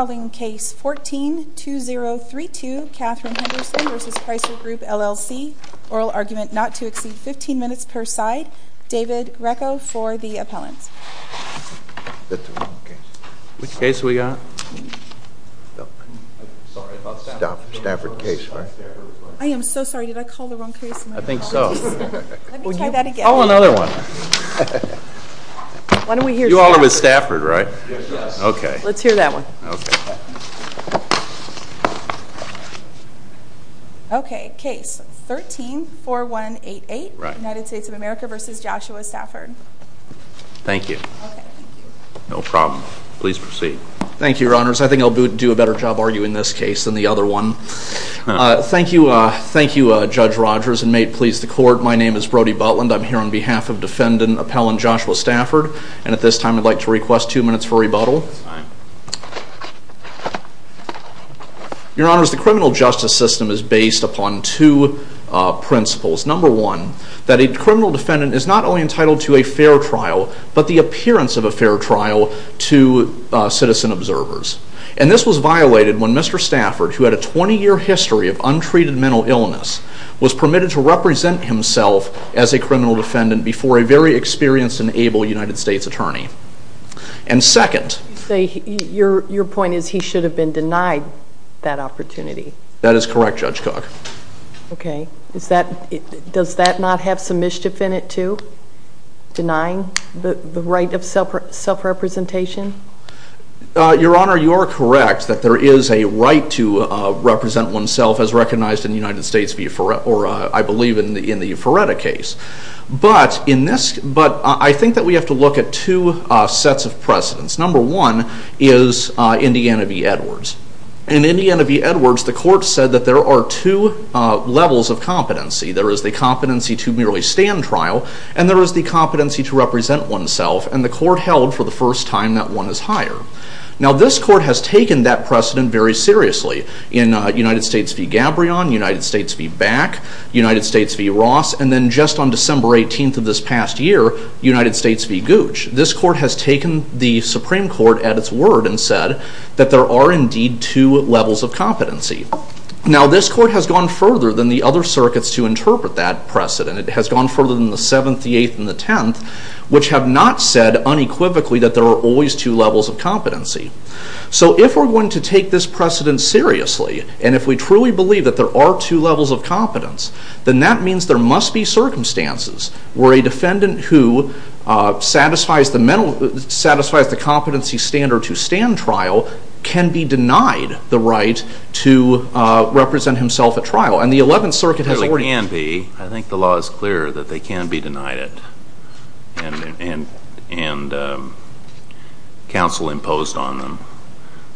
I am so sorry did I call the wrong case? I think so. Let me try that again. Call another one. You all are with Stafford, right? Okay. Let's hear that one. Okay. Case 13-4188, United States of America v. Joshua Stafford. Thank you. No problem. Please proceed. Thank you, Your Honors. I think I'll do a better job arguing this case than the other one. Thank you, Judge Rogers, and may it please the Court, my name is Brody Butland. I'm here on behalf of Defendant Appellant Joshua Stafford. And at this time I'd like to request two minutes for rebuttal. Your Honors, the criminal justice system is based upon two principles. Number one, that a criminal defendant is not only entitled to a fair trial, but the appearance of a fair trial to citizen observers. And this was violated when Mr. Stafford, who had a 20-year history of untreated mental illness, was permitted to represent himself as a criminal defendant before a very experienced and able United States attorney. And second... Your point is he should have been denied that opportunity. That is correct, Judge Cook. Okay. Does that not have some mischief in it, too? Denying the right of self-representation? Your Honor, you are correct that there is a right to represent oneself as recognized in the United States v. Euphoretta, or I believe in the Euphoretta case. But I think that we have to look at two sets of precedents. Number one is Indiana v. Edwards. In Indiana v. Edwards, the Court said that there are two levels of competency. There is the competency to merely stand trial, and there is the competency to represent oneself. And the Court held for the first time that one is higher. Now this Court has taken that precedent very seriously. In United States v. Gabrion, United States v. Back, United States v. Ross, and then just on December 18th of this past year, United States v. Gooch. This Court has taken the Supreme Court at its word and said that there are indeed two levels of competency. Now this Court has gone further than the other circuits to interpret that precedent. It has gone further than the 7th, the 8th, and the 10th, which have not said unequivocally that there are always two levels of competency. So if we're going to take this precedent seriously, and if we truly believe that there are two levels of competence, then that means there must be circumstances where a defendant who satisfies the competency standard to stand trial can be denied the right to represent himself at trial. I think the law is clear that they can be denied it, and counsel imposed on them.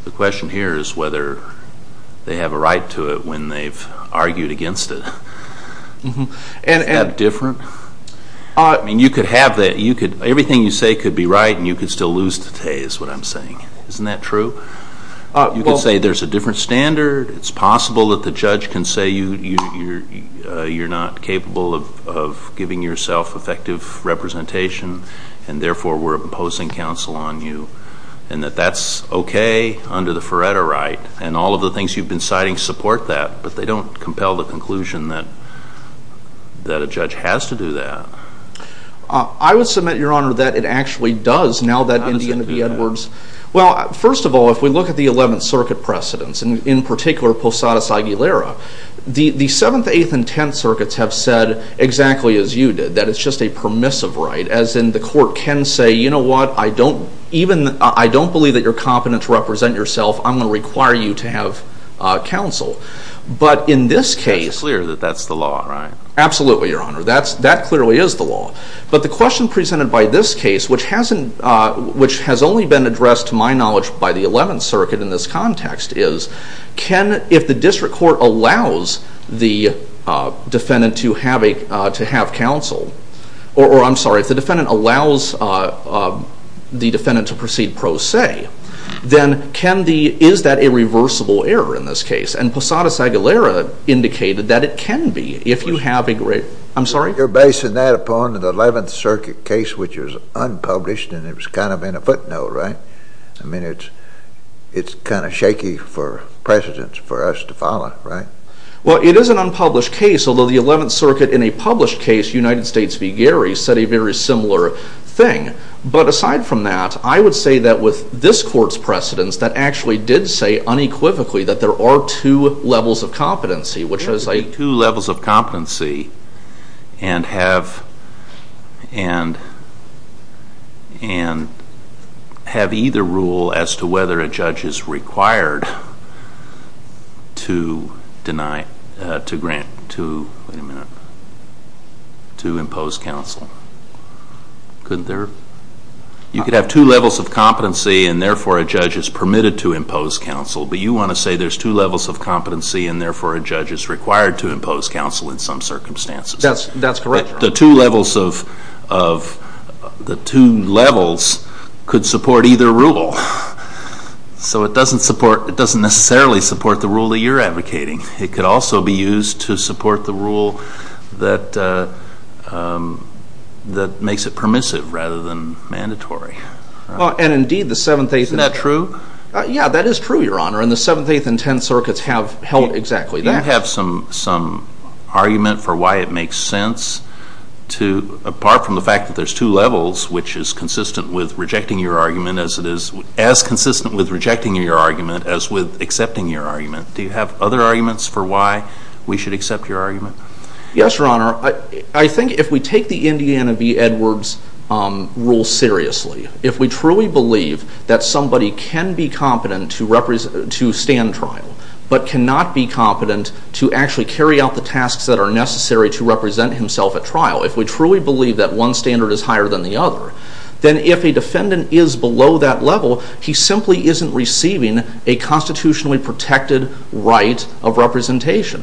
The question here is whether they have a right to it when they've argued against it. Isn't that different? I mean, you could have that. Everything you say could be right, and you could still lose today is what I'm saying. Isn't that true? You could say there's a different standard. It's possible that the judge can say you're not capable of giving yourself effective representation, and therefore we're imposing counsel on you, and that that's okay under the Feretta right, and all of the things you've been citing support that, but they don't compel the conclusion that a judge has to do that. I would submit, Your Honor, that it actually does now that Indiana v. Edwards Well, first of all, if we look at the 11th Circuit precedents, and in particular Posadas-Aguilera, the 7th, 8th, and 10th Circuits have said exactly as you did, that it's just a permissive right, as in the court can say, you know what, I don't believe that you're competent to represent yourself. I'm going to require you to have counsel. But in this case... It's clear that that's the law, right? Absolutely, Your Honor. That clearly is the law. But the question presented by this case, which has only been addressed, to my knowledge, by the 11th Circuit in this context, is if the district court allows the defendant to have counsel, or I'm sorry, if the defendant allows the defendant to proceed pro se, then is that a reversible error in this case? And Posadas-Aguilera indicated that it can be if you have a... I'm sorry? You're basing that upon the 11th Circuit case, which was unpublished, and it was kind of in a footnote, right? I mean, it's kind of shaky for precedents for us to follow, right? Well, it is an unpublished case, although the 11th Circuit in a published case, United States v. Gary, said a very similar thing. But aside from that, I would say that with this court's precedents, that actually did say unequivocally that there are two levels of competency, which was a two levels of competency and have either rule as to whether a judge is required to deny, to grant, to impose counsel. Couldn't there? You could have two levels of competency, and therefore a judge is permitted to impose counsel, but you want to say there's two levels of competency, and therefore a judge is required to impose counsel in some circumstances. That's correct. The two levels could support either rule. So it doesn't necessarily support the rule that you're advocating. It could also be used to support the rule that makes it permissive rather than mandatory. Well, and indeed, the 7th A.C. Isn't that true? Yeah, that is true, Your Honor, and the 7th, 8th, and 10th Circuits have held exactly that. Do you have some argument for why it makes sense to, apart from the fact that there's two levels, which is consistent with rejecting your argument, as it is as consistent with rejecting your argument as with accepting your argument. Do you have other arguments for why we should accept your argument? Yes, Your Honor. I think if we take the Indiana v. Edwards rule seriously, if we truly believe that somebody can be competent to stand trial but cannot be competent to actually carry out the tasks that are necessary to represent himself at trial, if we truly believe that one standard is higher than the other, then if a defendant is below that level, he simply isn't receiving a constitutionally protected right of representation.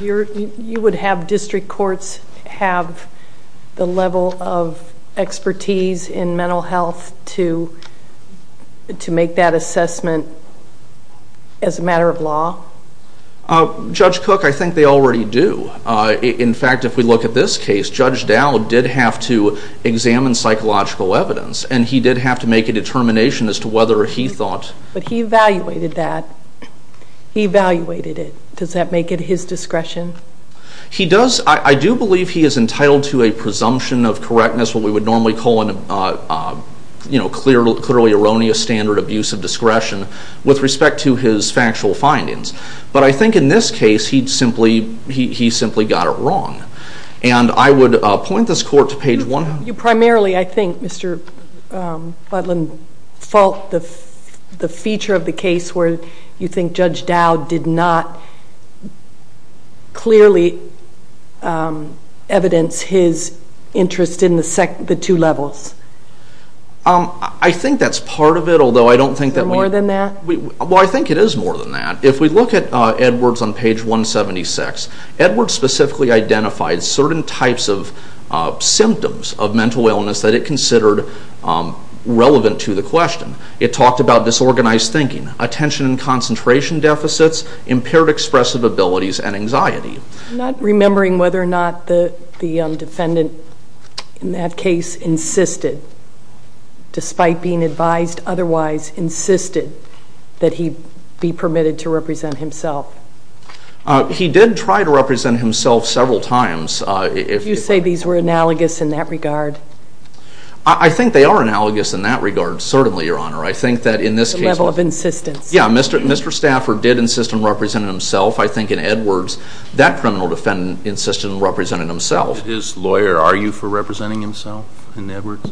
You would have district courts have the level of expertise in mental health to make that assessment as a matter of law? Judge Cook, I think they already do. In fact, if we look at this case, Judge Dow did have to examine psychological evidence, and he did have to make a determination as to whether he thought... But he evaluated that. He evaluated it. Does that make it his discretion? He does. I do believe he is entitled to a presumption of correctness, what we would normally call a clearly erroneous standard of use of discretion with respect to his factual findings. But I think in this case, he simply got it wrong. And I would point this court to page 100. You primarily, I think, Mr. Butler, fault the feature of the case where you think Judge Dow did not clearly evidence his interest in the two levels. I think that's part of it, although I don't think that we... Is there more than that? Well, I think it is more than that. If we look at Edwards on page 176, Edwards specifically identified certain types of symptoms of mental illness that it considered relevant to the question. It talked about disorganized thinking, attention and concentration deficits, impaired expressive abilities, and anxiety. I'm not remembering whether or not the defendant in that case insisted, despite being advised otherwise, insisted that he be permitted to represent himself. He did try to represent himself several times. You say these were analogous in that regard? I think they are analogous in that regard, certainly, Your Honor. I think that in this case... The level of insistence. Yeah, Mr. Stafford did insist on representing himself. I think in Edwards, that criminal defendant insisted on representing himself. As his lawyer, are you for representing himself in Edwards?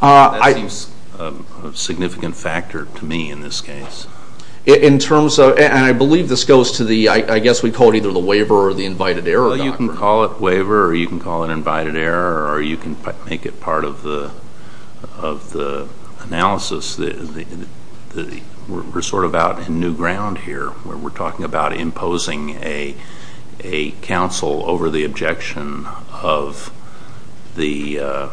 That seems a significant factor to me in this case. In terms of... And I believe this goes to the... I guess we call it either the waiver or the invited error doctrine. Well, you can call it waiver or you can call it invited error or you can make it part of the analysis. We're sort of out in new ground here where we're talking about imposing a counsel over the objection of the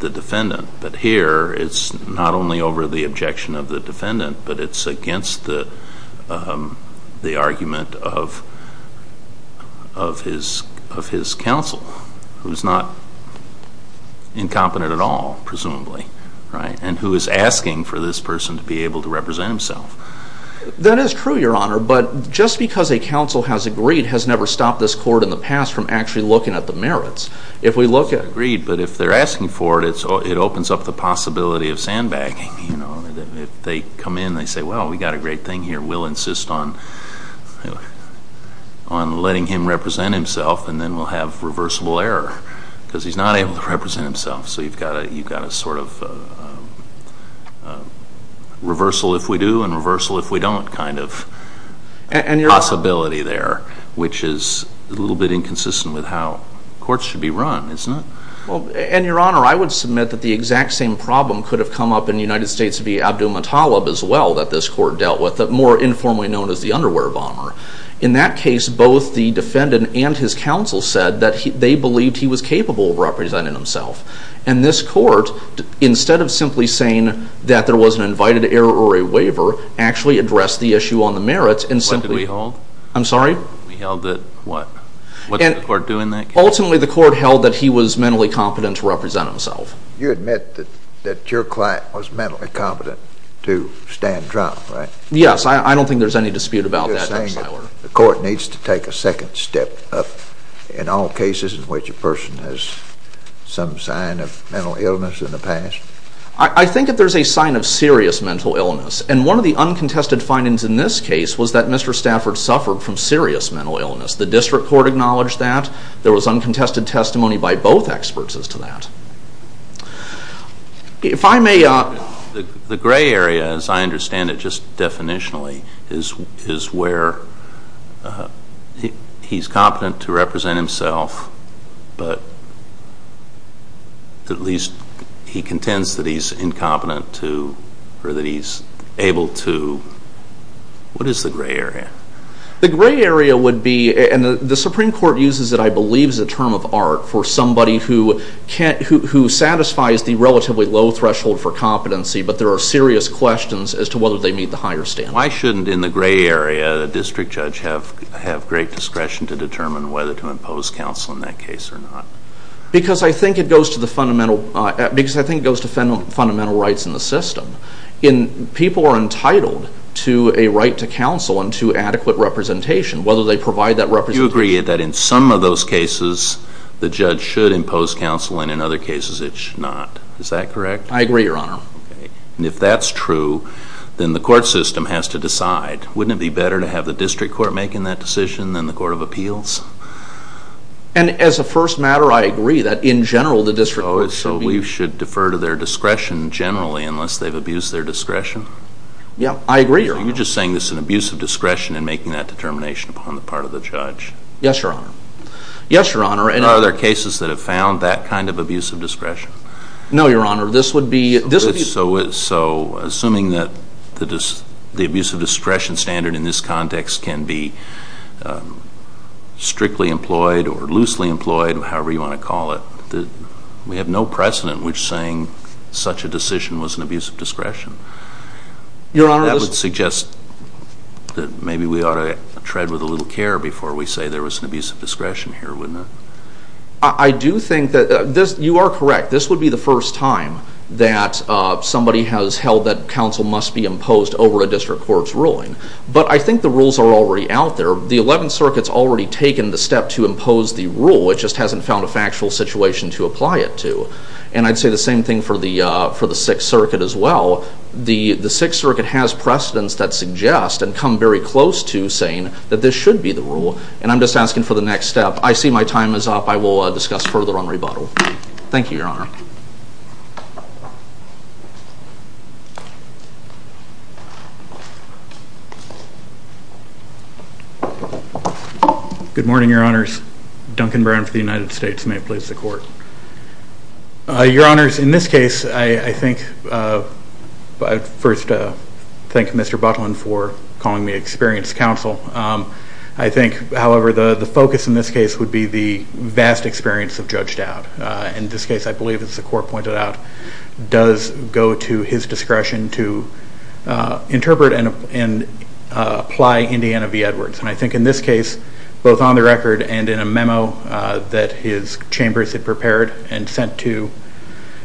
defendant. But here, it's not only over the objection of the defendant, but it's against the argument of his counsel, who's not incompetent at all, presumably, right? And who is asking for this person to be able to represent himself. That is true, Your Honor. But just because a counsel has agreed has never stopped this court in the past from actually looking at the merits. If we look at... Agreed, but if they're asking for it, it opens up the possibility of sandbagging. If they come in, they say, well, we've got a great thing here. We'll insist on letting him represent himself and then we'll have reversible error because he's not able to represent himself. So you've got a sort of reversal if we do and reversal if we don't kind of possibility there, which is a little bit inconsistent with how courts should be run, isn't it? Well, and Your Honor, I would submit that the exact same problem could have come up in the United States via Abdulmutallab as well that this court dealt with, more informally known as the underwear bomber. In that case, both the defendant and his counsel said that they believed he was capable of representing himself. And this court, instead of simply saying that there was an invited error or a waiver, actually addressed the issue on the merits and simply... What did we hold? I'm sorry? We held that... What? What did the court do in that case? Ultimately, the court held that he was mentally competent to represent himself. You admit that your client was mentally competent to stand trial, right? Yes, I don't think there's any dispute about that. You're saying that the court needs to take a second step up in all cases in which a person has some sign of mental illness in the past? I think that there's a sign of serious mental illness. And one of the uncontested findings in this case was that Mr. Stafford suffered from serious mental illness. The district court acknowledged that. There was uncontested testimony by both experts as to that. If I may... The gray area, as I understand it just definitionally, is where he's competent to represent himself, but at least he contends that he's incompetent to or that he's able to. What is the gray area? The gray area would be, and the Supreme Court uses it, I believe, as a term of art for somebody who satisfies the relatively low threshold for competency, but there are serious questions as to whether they meet the higher standard. Why shouldn't, in the gray area, a district judge have great discretion to determine whether to impose counsel in that case or not? Because I think it goes to fundamental rights in the system. People are entitled to a right to counsel and to adequate representation, whether they provide that representation. Do you agree that in some of those cases the judge should impose counsel and in other cases it should not? Is that correct? I agree, Your Honor. Okay. And if that's true, then the court system has to decide. Wouldn't it be better to have the district court making that decision than the court of appeals? And as a first matter, I agree that in general the district court should be... Oh, so we should defer to their discretion generally unless they've abused their discretion? Yeah, I agree, Your Honor. Are you just saying this is an abuse of discretion in making that determination upon the part of the judge? Yes, Your Honor. Yes, Your Honor. Are there cases that have found that kind of abuse of discretion? No, Your Honor. This would be... So assuming that the abuse of discretion standard in this context can be strictly employed or loosely employed, however you want to call it, we have no precedent which saying such a decision was an abuse of discretion. Your Honor, this... Maybe we ought to tread with a little care before we say there was an abuse of discretion here, wouldn't it? I do think that... You are correct. This would be the first time that somebody has held that counsel must be imposed over a district court's ruling. But I think the rules are already out there. The Eleventh Circuit's already taken the step to impose the rule. It just hasn't found a factual situation to apply it to. And I'd say the same thing for the Sixth Circuit as well. The Sixth Circuit has precedents that suggest and come very close to saying that this should be the rule. And I'm just asking for the next step. I see my time is up. I will discuss further on rebuttal. Thank you, Your Honor. Good morning, Your Honors. Duncan Brown for the United States. May it please the Court. Your Honors, in this case, I think... First, thank Mr. Butlin for calling me experienced counsel. I think, however, the focus in this case would be the vast experience of Judge Dowd. In this case, I believe, as the Court pointed out, does go to his discretion to interpret and apply Indiana v. Edwards. And I think in this case, both on the record and in a memo that his chambers had prepared and sent to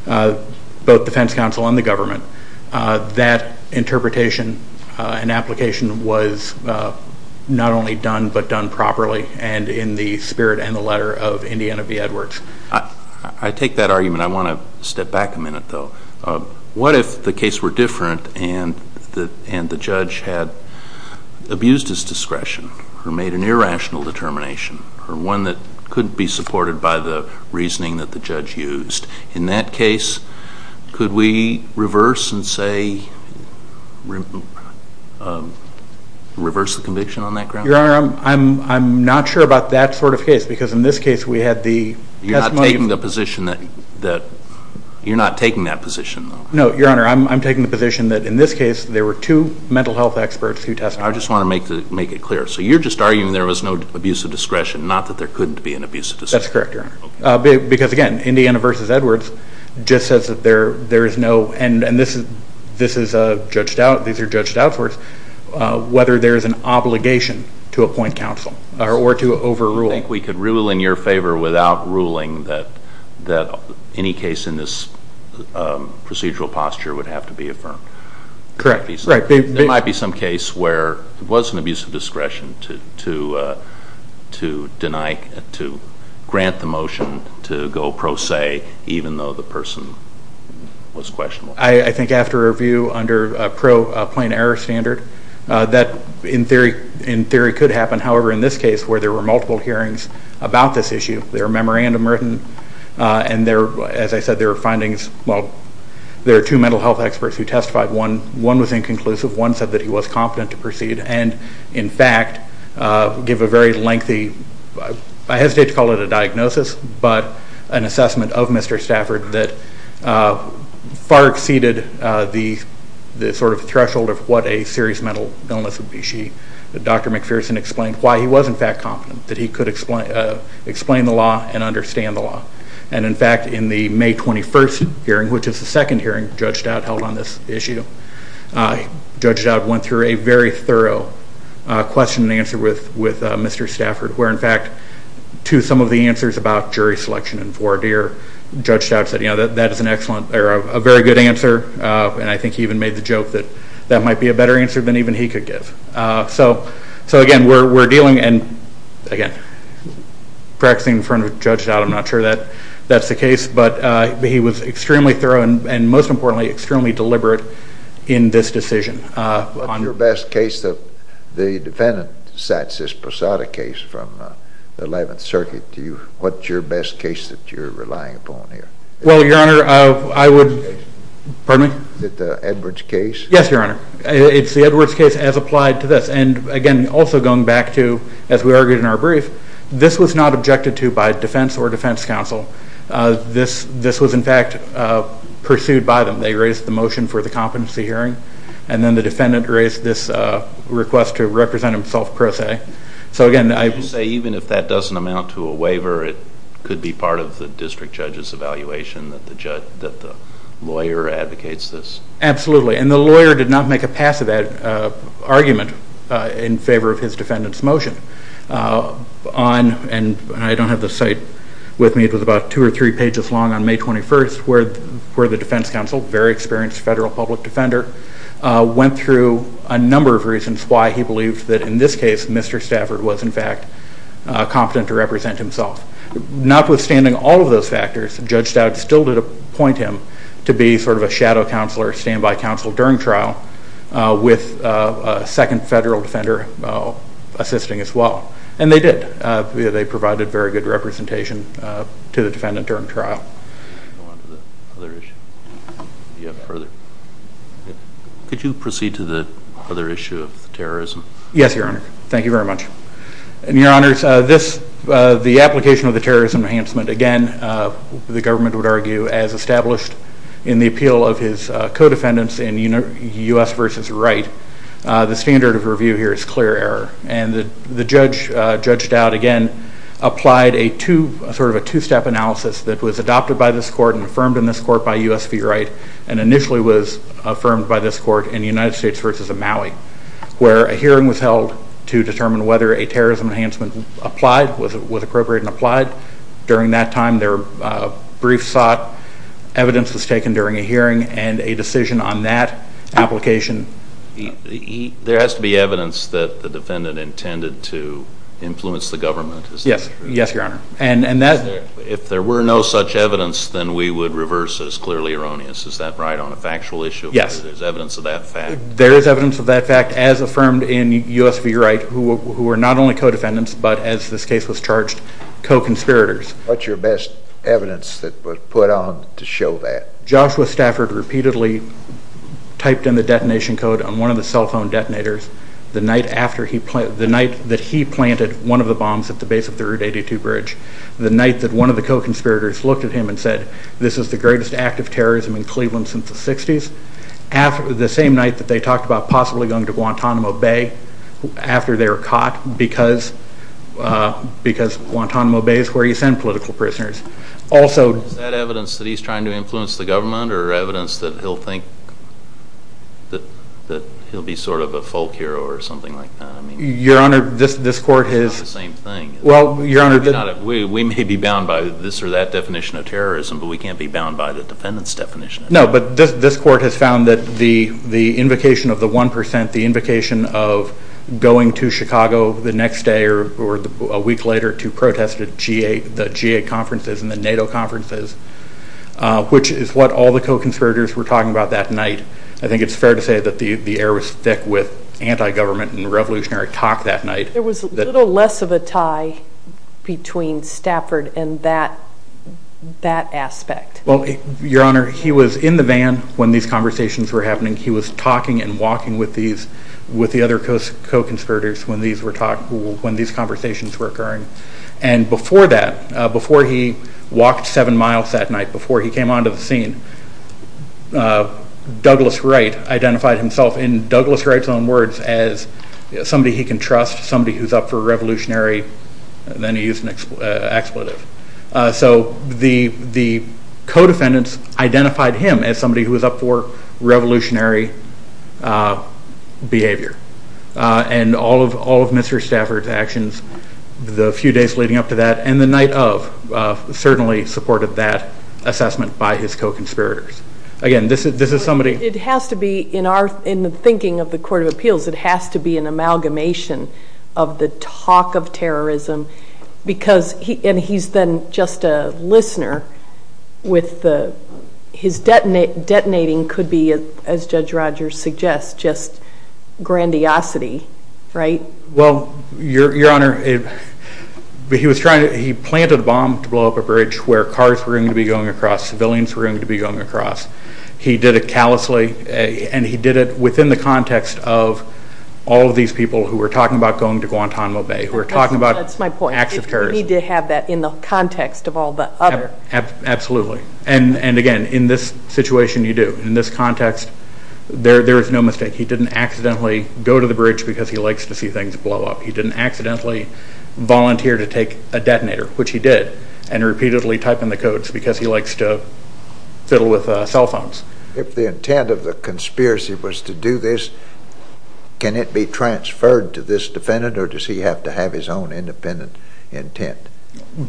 both defense counsel and the government, that interpretation and application was not only done but done properly and in the spirit and the letter of Indiana v. Edwards. I take that argument. I want to step back a minute, though. What if the case were different and the judge had abused his discretion or made an irrational determination or one that couldn't be supported by the reasoning that the judge used? In that case, could we reverse and say reverse the conviction on that ground? Your Honor, I'm not sure about that sort of case because in this case, we had the testimony... You're not taking that position, though? No, Your Honor. I'm taking the position that in this case, there were two mental health experts who testified. I just want to make it clear. So you're just arguing there was no abuse of discretion, not that there couldn't be an abuse of discretion? That's correct, Your Honor. Because, again, Indiana v. Edwards just says that there is no, and this is Judge Dowd, these are Judge Dowd's words, whether there is an obligation to appoint counsel or to overrule. I think we could rule in your favor without ruling that any case in this procedural posture would have to be affirmed. Correct. There might be some case where there was an abuse of discretion to grant the motion to go pro se, even though the person was questionable. I think after review under a pro plain error standard, that in theory could happen. However, in this case, where there were multiple hearings about this issue, there are memorandum written and, as I said, there are findings. Well, there are two mental health experts who testified. One was inconclusive. One said that he was competent to proceed and, in fact, give a very lengthy, I hesitate to call it a diagnosis, but an assessment of Mr. Stafford that far exceeded the sort of threshold of what a serious mental illness would be. Dr. McPherson explained why he was, in fact, confident that he could explain the law and understand the law. And, in fact, in the May 21st hearing, which is the second hearing Judge Dowd held on this issue, Judge Dowd went through a very thorough question and answer with Mr. Stafford, where, in fact, to some of the answers about jury selection and voir dire, Judge Dowd said, you know, that is an excellent or a very good answer. And I think he even made the joke that that might be a better answer than even he could give. So, again, we're dealing and, again, practicing in front of Judge Dowd. I'm not sure that that's the case. But he was extremely thorough and, most importantly, extremely deliberate in this decision. What's your best case? The defendant sets this Posada case from the 11th Circuit. What's your best case that you're relying upon here? Well, Your Honor, I would, pardon me? Is it the Edwards case? Yes, Your Honor. It's the Edwards case as applied to this. And, again, also going back to, as we argued in our brief, this was not objected to by defense or defense counsel. This was, in fact, pursued by them. They raised the motion for the competency hearing. And then the defendant raised this request to represent himself pro se. So, again, I would say even if that doesn't amount to a waiver, it could be part of the district judge's evaluation that the lawyer advocates this. Absolutely. And the lawyer did not make a passive argument in favor of his defendant's motion. And I don't have the site with me. It was about two or three pages long on May 21st where the defense counsel, a very experienced federal public defender, went through a number of reasons why he believed that, in this case, Mr. Stafford was, in fact, competent to represent himself. Notwithstanding all of those factors, Judge Stout still did appoint him to be sort of a shadow counselor, standby counsel during trial with a second federal defender assisting as well. And they did. They provided very good representation to the defendant during trial. Go on to the other issue. Do you have further? Could you proceed to the other issue of terrorism? Yes, Your Honor. Thank you very much. And, Your Honors, the application of the terrorism enhancement, again, the government would argue as established in the appeal of his co-defendants in U.S. v. Wright, the standard of review here is clear error. And the judge, Judge Stout, again, applied a sort of a two-step analysis that was adopted by this court and affirmed in this court by U.S. v. Wright and initially was affirmed by this court in the United States v. Maui where a hearing was held to determine whether a terrorism enhancement applied, was appropriate and applied. During that time, there were briefs sought, evidence was taken during a hearing, and a decision on that application. There has to be evidence that the defendant intended to influence the government. Yes. Yes, Your Honor. If there were no such evidence, then we would reverse this clearly erroneous. Is that right on a factual issue? Yes. There's evidence of that fact? There is evidence of that fact as affirmed in U.S. v. Wright who were not only co-defendants but, as this case was charged, co-conspirators. What's your best evidence that was put on to show that? Joshua Stafford repeatedly typed in the detonation code on one of the cell phone detonators the night that he planted one of the bombs at the base of the Route 82 bridge, the night that one of the co-conspirators looked at him and said, this is the greatest act of terrorism in Cleveland since the 60s, the same night that they talked about possibly going to Guantanamo Bay after they were caught because Guantanamo Bay is where you send political prisoners. Is that evidence that he's trying to influence the government or evidence that he'll think that he'll be sort of a folk hero or something like that? Your Honor, this court has... It's not the same thing. Well, Your Honor... We may be bound by this or that definition of terrorism, but we can't be bound by the defendant's definition. No, but this court has found that the invocation of the 1%, the invocation of going to Chicago the next day or a week later to protest the G8 conferences and the NATO conferences, which is what all the co-conspirators were talking about that night. I think it's fair to say that the air was thick with anti-government and revolutionary talk that night. There was a little less of a tie between Stafford and that aspect. Well, Your Honor, he was in the van when these conversations were happening. He was talking and walking with the other co-conspirators when these conversations were occurring. And before that, before he walked seven miles that night, before he came onto the scene, Douglas Wright identified himself in Douglas Wright's own words as somebody he can trust, somebody who's up for revolutionary. Then he used an expletive. So the co-defendants identified him as somebody who was up for revolutionary behavior. And all of Mr. Stafford's actions the few days leading up to that and the night of certainly supported that assessment by his co-conspirators. Again, this is somebody... It has to be, in the thinking of the Court of Appeals, it has to be an amalgamation of the talk of terrorism because he's then just a listener with his detonating, could be, as Judge Rogers suggests, just grandiosity, right? Well, Your Honor, he planted a bomb to blow up a bridge where cars were going to be going across, civilians were going to be going across. He did it callously, and he did it within the context of all of these people who were talking about going to Guantanamo Bay, who were talking about acts of terrorism. That's my point. You need to have that in the context of all the other... Absolutely. And again, in this situation you do. In this context, there is no mistake. He didn't accidentally go to the bridge because he likes to see things blow up. He didn't accidentally volunteer to take a detonator, which he did, and repeatedly type in the codes because he likes to fiddle with cell phones. If the intent of the conspiracy was to do this, can it be transferred to this defendant or does he have to have his own independent intent?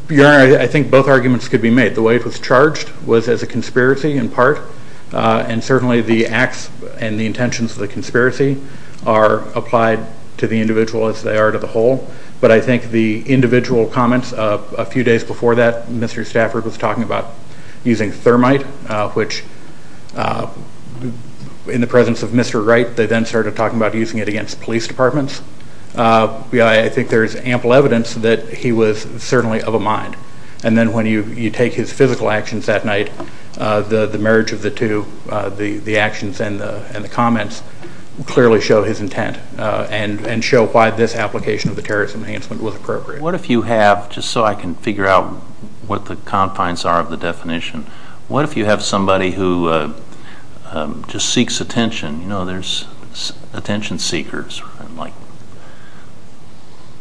Your Honor, I think both arguments could be made. The way it was charged was as a conspiracy in part, and certainly the acts and the intentions of the conspiracy are applied to the individual as they are to the whole. But I think the individual comments a few days before that, Mr. Stafford was talking about using thermite, which in the presence of Mr. Wright, they then started talking about using it against police departments. I think there is ample evidence that he was certainly of a mind. And then when you take his physical actions that night, the marriage of the two, the actions and the comments, clearly show his intent and show why this application of the terrorist enhancement was appropriate. What if you have, just so I can figure out what the confines are of the definition, what if you have somebody who just seeks attention? There are attention seekers, like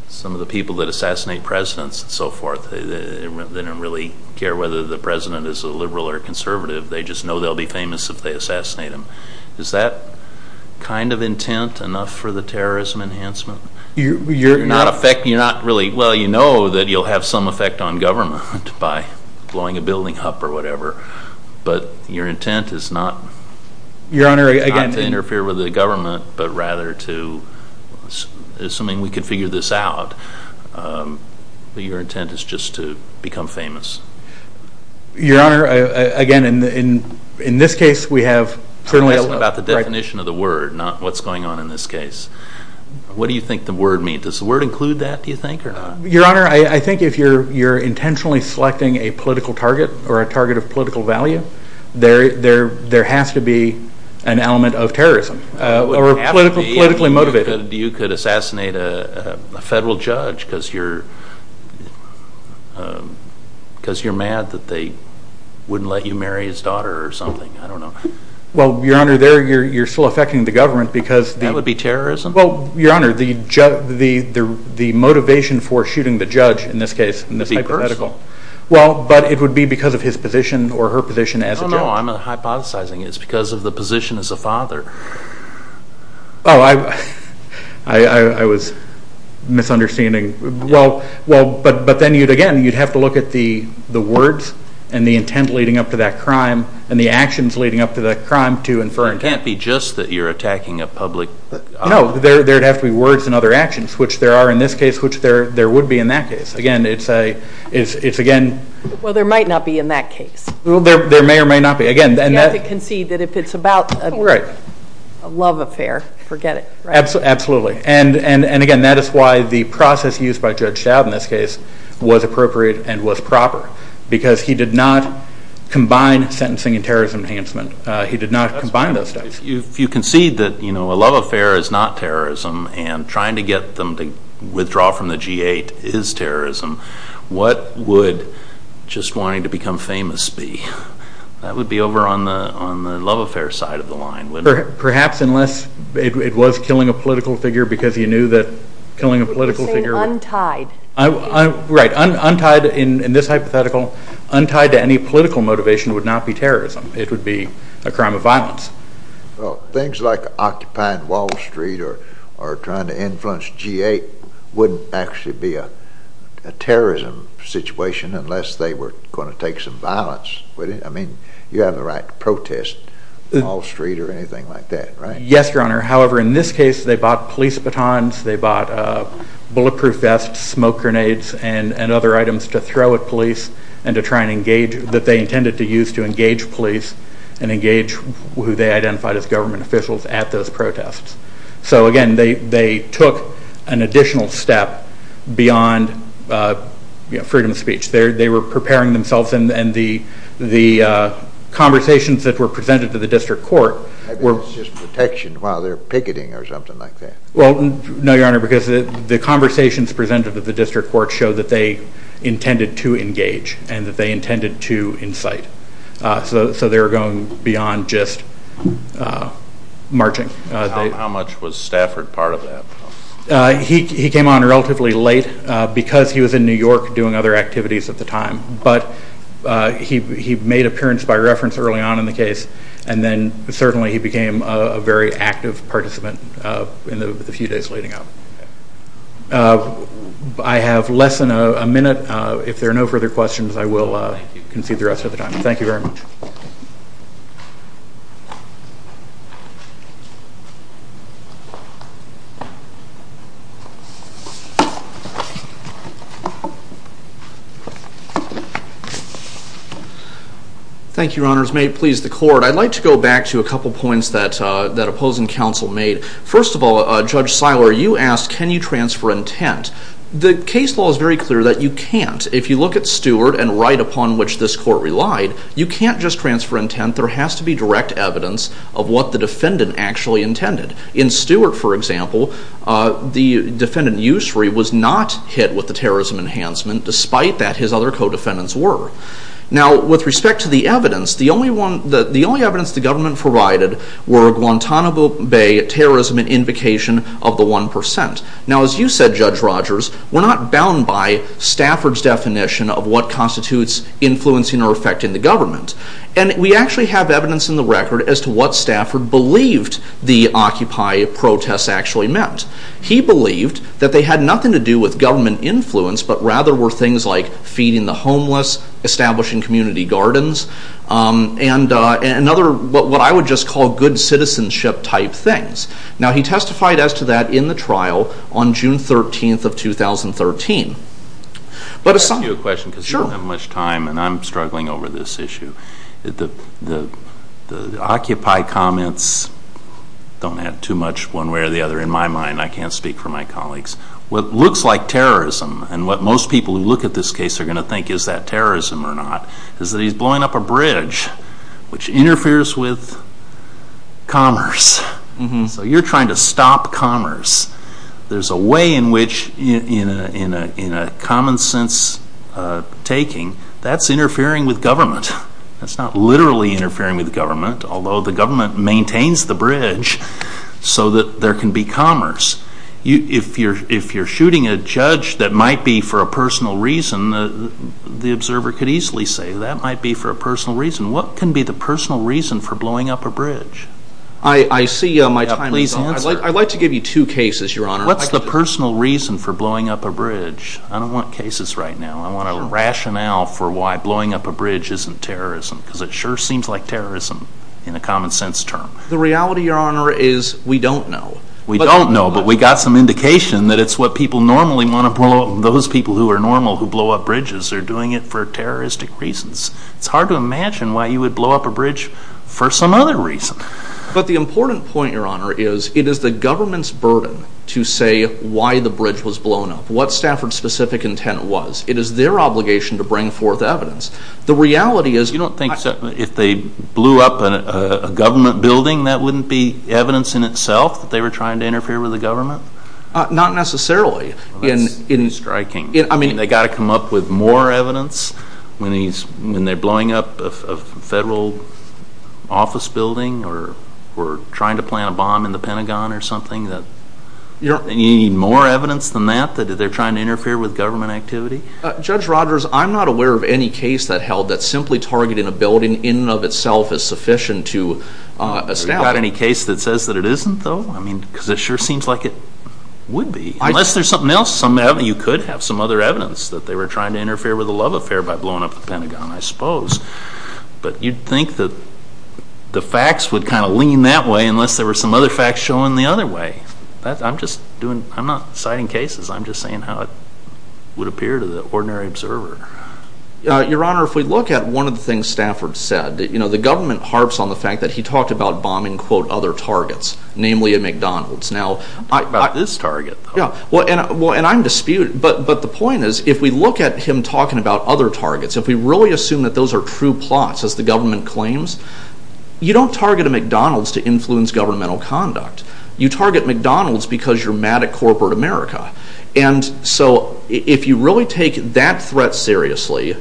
some of the people that assassinate presidents and so forth. They don't really care whether the president is a liberal or a conservative. They just know they'll be famous if they assassinate him. Is that kind of intent enough for the terrorism enhancement? You're not really, well, you know that you'll have some effect on government by blowing a building up or whatever, but your intent is not to interfere with the government, but rather to, assuming we can figure this out, your intent is just to become famous. Your Honor, again, in this case we have... I'm asking about the definition of the word, not what's going on in this case. What do you think the word means? Does the word include that, do you think, or not? Your Honor, I think if you're intentionally selecting a political target or a target of political value, there has to be an element of terrorism. Or politically motivated. You could assassinate a federal judge because you're mad that they wouldn't let you marry his daughter or something. I don't know. Well, Your Honor, you're still affecting the government because... That would be terrorism? Well, Your Honor, the motivation for shooting the judge in this hypothetical... To be personal. Well, but it would be because of his position or her position as a judge. No, I'm hypothesizing it's because of the position as a father. Oh, I was misunderstanding. Well, but then again, you'd have to look at the words and the intent leading up to that crime and the actions leading up to that crime to infer... It can't be just that you're attacking a public... No, there'd have to be words and other actions, which there are in this case, which there would be in that case. Again, it's again... Well, there might not be in that case. Well, there may or may not be. Again... You have to concede that if it's about a love affair, forget it. Absolutely. And again, that is why the process used by Judge Stout in this case was appropriate and was proper because he did not combine sentencing and terrorism enhancement. He did not combine those two. If you concede that a love affair is not terrorism and trying to get them to withdraw from the G8 is terrorism, what would just wanting to become famous be? That would be over on the love affair side of the line, wouldn't it? Perhaps unless it was killing a political figure because you knew that killing a political figure... You're saying untied. Right, untied in this hypothetical. Untied to any political motivation would not be terrorism. It would be a crime of violence. Well, things like occupying Wall Street or trying to influence G8 wouldn't actually be a terrorism situation unless they were going to take some violence, would it? I mean, you have the right to protest Wall Street or anything like that, right? Yes, Your Honor. However, in this case, they bought police batons, they bought bulletproof vests, smoke grenades, and other items to throw at police that they intended to use to engage police and engage who they identified as government officials at those protests. So, again, they took an additional step beyond freedom of speech. They were preparing themselves and the conversations that were presented to the district court were... I bet it's just protection while they're picketing or something like that. Well, no, Your Honor, because the conversations presented to the district court show that they intended to engage and that they intended to incite. So they were going beyond just marching. How much was Stafford part of that? He came on relatively late because he was in New York doing other activities at the time, but he made appearance by reference early on in the case and then certainly he became a very active participant in the few days leading up. I have less than a minute. If there are no further questions, I will concede the rest of the time. Thank you very much. Thank you. Thank you, Your Honors. May it please the court, I'd like to go back to a couple of points that opposing counsel made. First of all, Judge Seiler, you asked can you transfer intent. The case law is very clear that you can't. If you look at Stewart and right upon which this court relied, you can't just transfer intent. There has to be direct evidence of what the defendant actually intended. In Stewart, for example, the defendant Ussery was not hit with the terrorism enhancement despite that his other co-defendants were. Now with respect to the evidence, the only evidence the government provided were Guantanamo Bay terrorism and invocation of the 1%. Now as you said, Judge Rogers, we're not bound by Stafford's definition of what constitutes influencing or affecting the government. And we actually have evidence in the record as to what Stafford believed the Occupy protests actually meant. He believed that they had nothing to do with government influence but rather were things like feeding the homeless, establishing community gardens, and what I would just call good citizenship type things. Now he testified as to that in the trial on June 13th of 2013. Can I ask you a question? Sure. I don't have much time and I'm struggling over this issue. The Occupy comments don't add too much one way or the other. In my mind, I can't speak for my colleagues, what looks like terrorism and what most people who look at this case are going to think is that terrorism or not, is that he's blowing up a bridge which interferes with commerce. So you're trying to stop commerce. There's a way in which, in a common sense taking, that's interfering with government. That's not literally interfering with government, although the government maintains the bridge so that there can be commerce. If you're shooting a judge that might be for a personal reason, the observer could easily say that might be for a personal reason. What can be the personal reason for blowing up a bridge? I see my time is up. Please answer. I'd like to give you two cases, Your Honor. What's the personal reason for blowing up a bridge? I don't want cases right now. I want a rationale for why blowing up a bridge isn't terrorism because it sure seems like terrorism in a common sense term. The reality, Your Honor, is we don't know. We don't know, but we got some indication that it's what people normally want to blow up. Those people who are normal who blow up bridges are doing it for terroristic reasons. It's hard to imagine why you would blow up a bridge for some other reason. But the important point, Your Honor, is it is the government's burden to say why the bridge was blown up, what Stafford's specific intent was. It is their obligation to bring forth evidence. The reality is... You don't think if they blew up a government building that wouldn't be evidence in itself that they were trying to interfere with the government? Not necessarily. That's striking. I mean, they got to come up with more evidence when they're blowing up a federal office building or trying to plant a bomb in the Pentagon or something. You need more evidence than that that they're trying to interfere with government activity? Judge Rogers, I'm not aware of any case that held that simply targeting a building in and of itself is sufficient to establish... You got any case that says that it isn't, though? I mean, because it sure seems like it would be. Unless there's something else, you could have some other evidence that they were trying to interfere with a love affair by blowing up the Pentagon, I suppose. But you'd think that the facts would kind of lean that way unless there were some other facts showing the other way. I'm not citing cases. I'm just saying how it would appear to the ordinary observer. Your Honor, if we look at one of the things Stafford said, the government harps on the fact that he talked about bombing, quote, other targets, namely at McDonald's. Not this target, though. Yeah, well, and I'm disputing... But the point is, if we look at him talking about other targets, if we really assume that those are true plots, as the government claims, you don't target a McDonald's to influence governmental conduct. You target McDonald's because you're mad at corporate America. And so if you really take that threat seriously,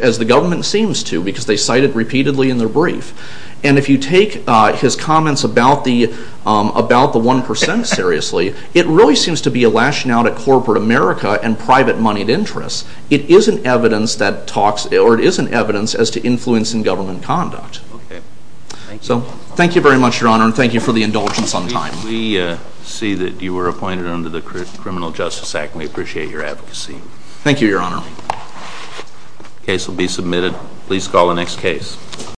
as the government seems to, because they cite it repeatedly in their brief, and if you take his comments about the 1% seriously, it really seems to be a lashing out at corporate America and private moneyed interests. It is an evidence as to influence in government conduct. So, thank you very much, Your Honor, and thank you for the indulgence on time. We see that you were appointed under the Criminal Justice Act, and we appreciate your advocacy. Thank you, Your Honor. Case will be submitted. Please call the next case.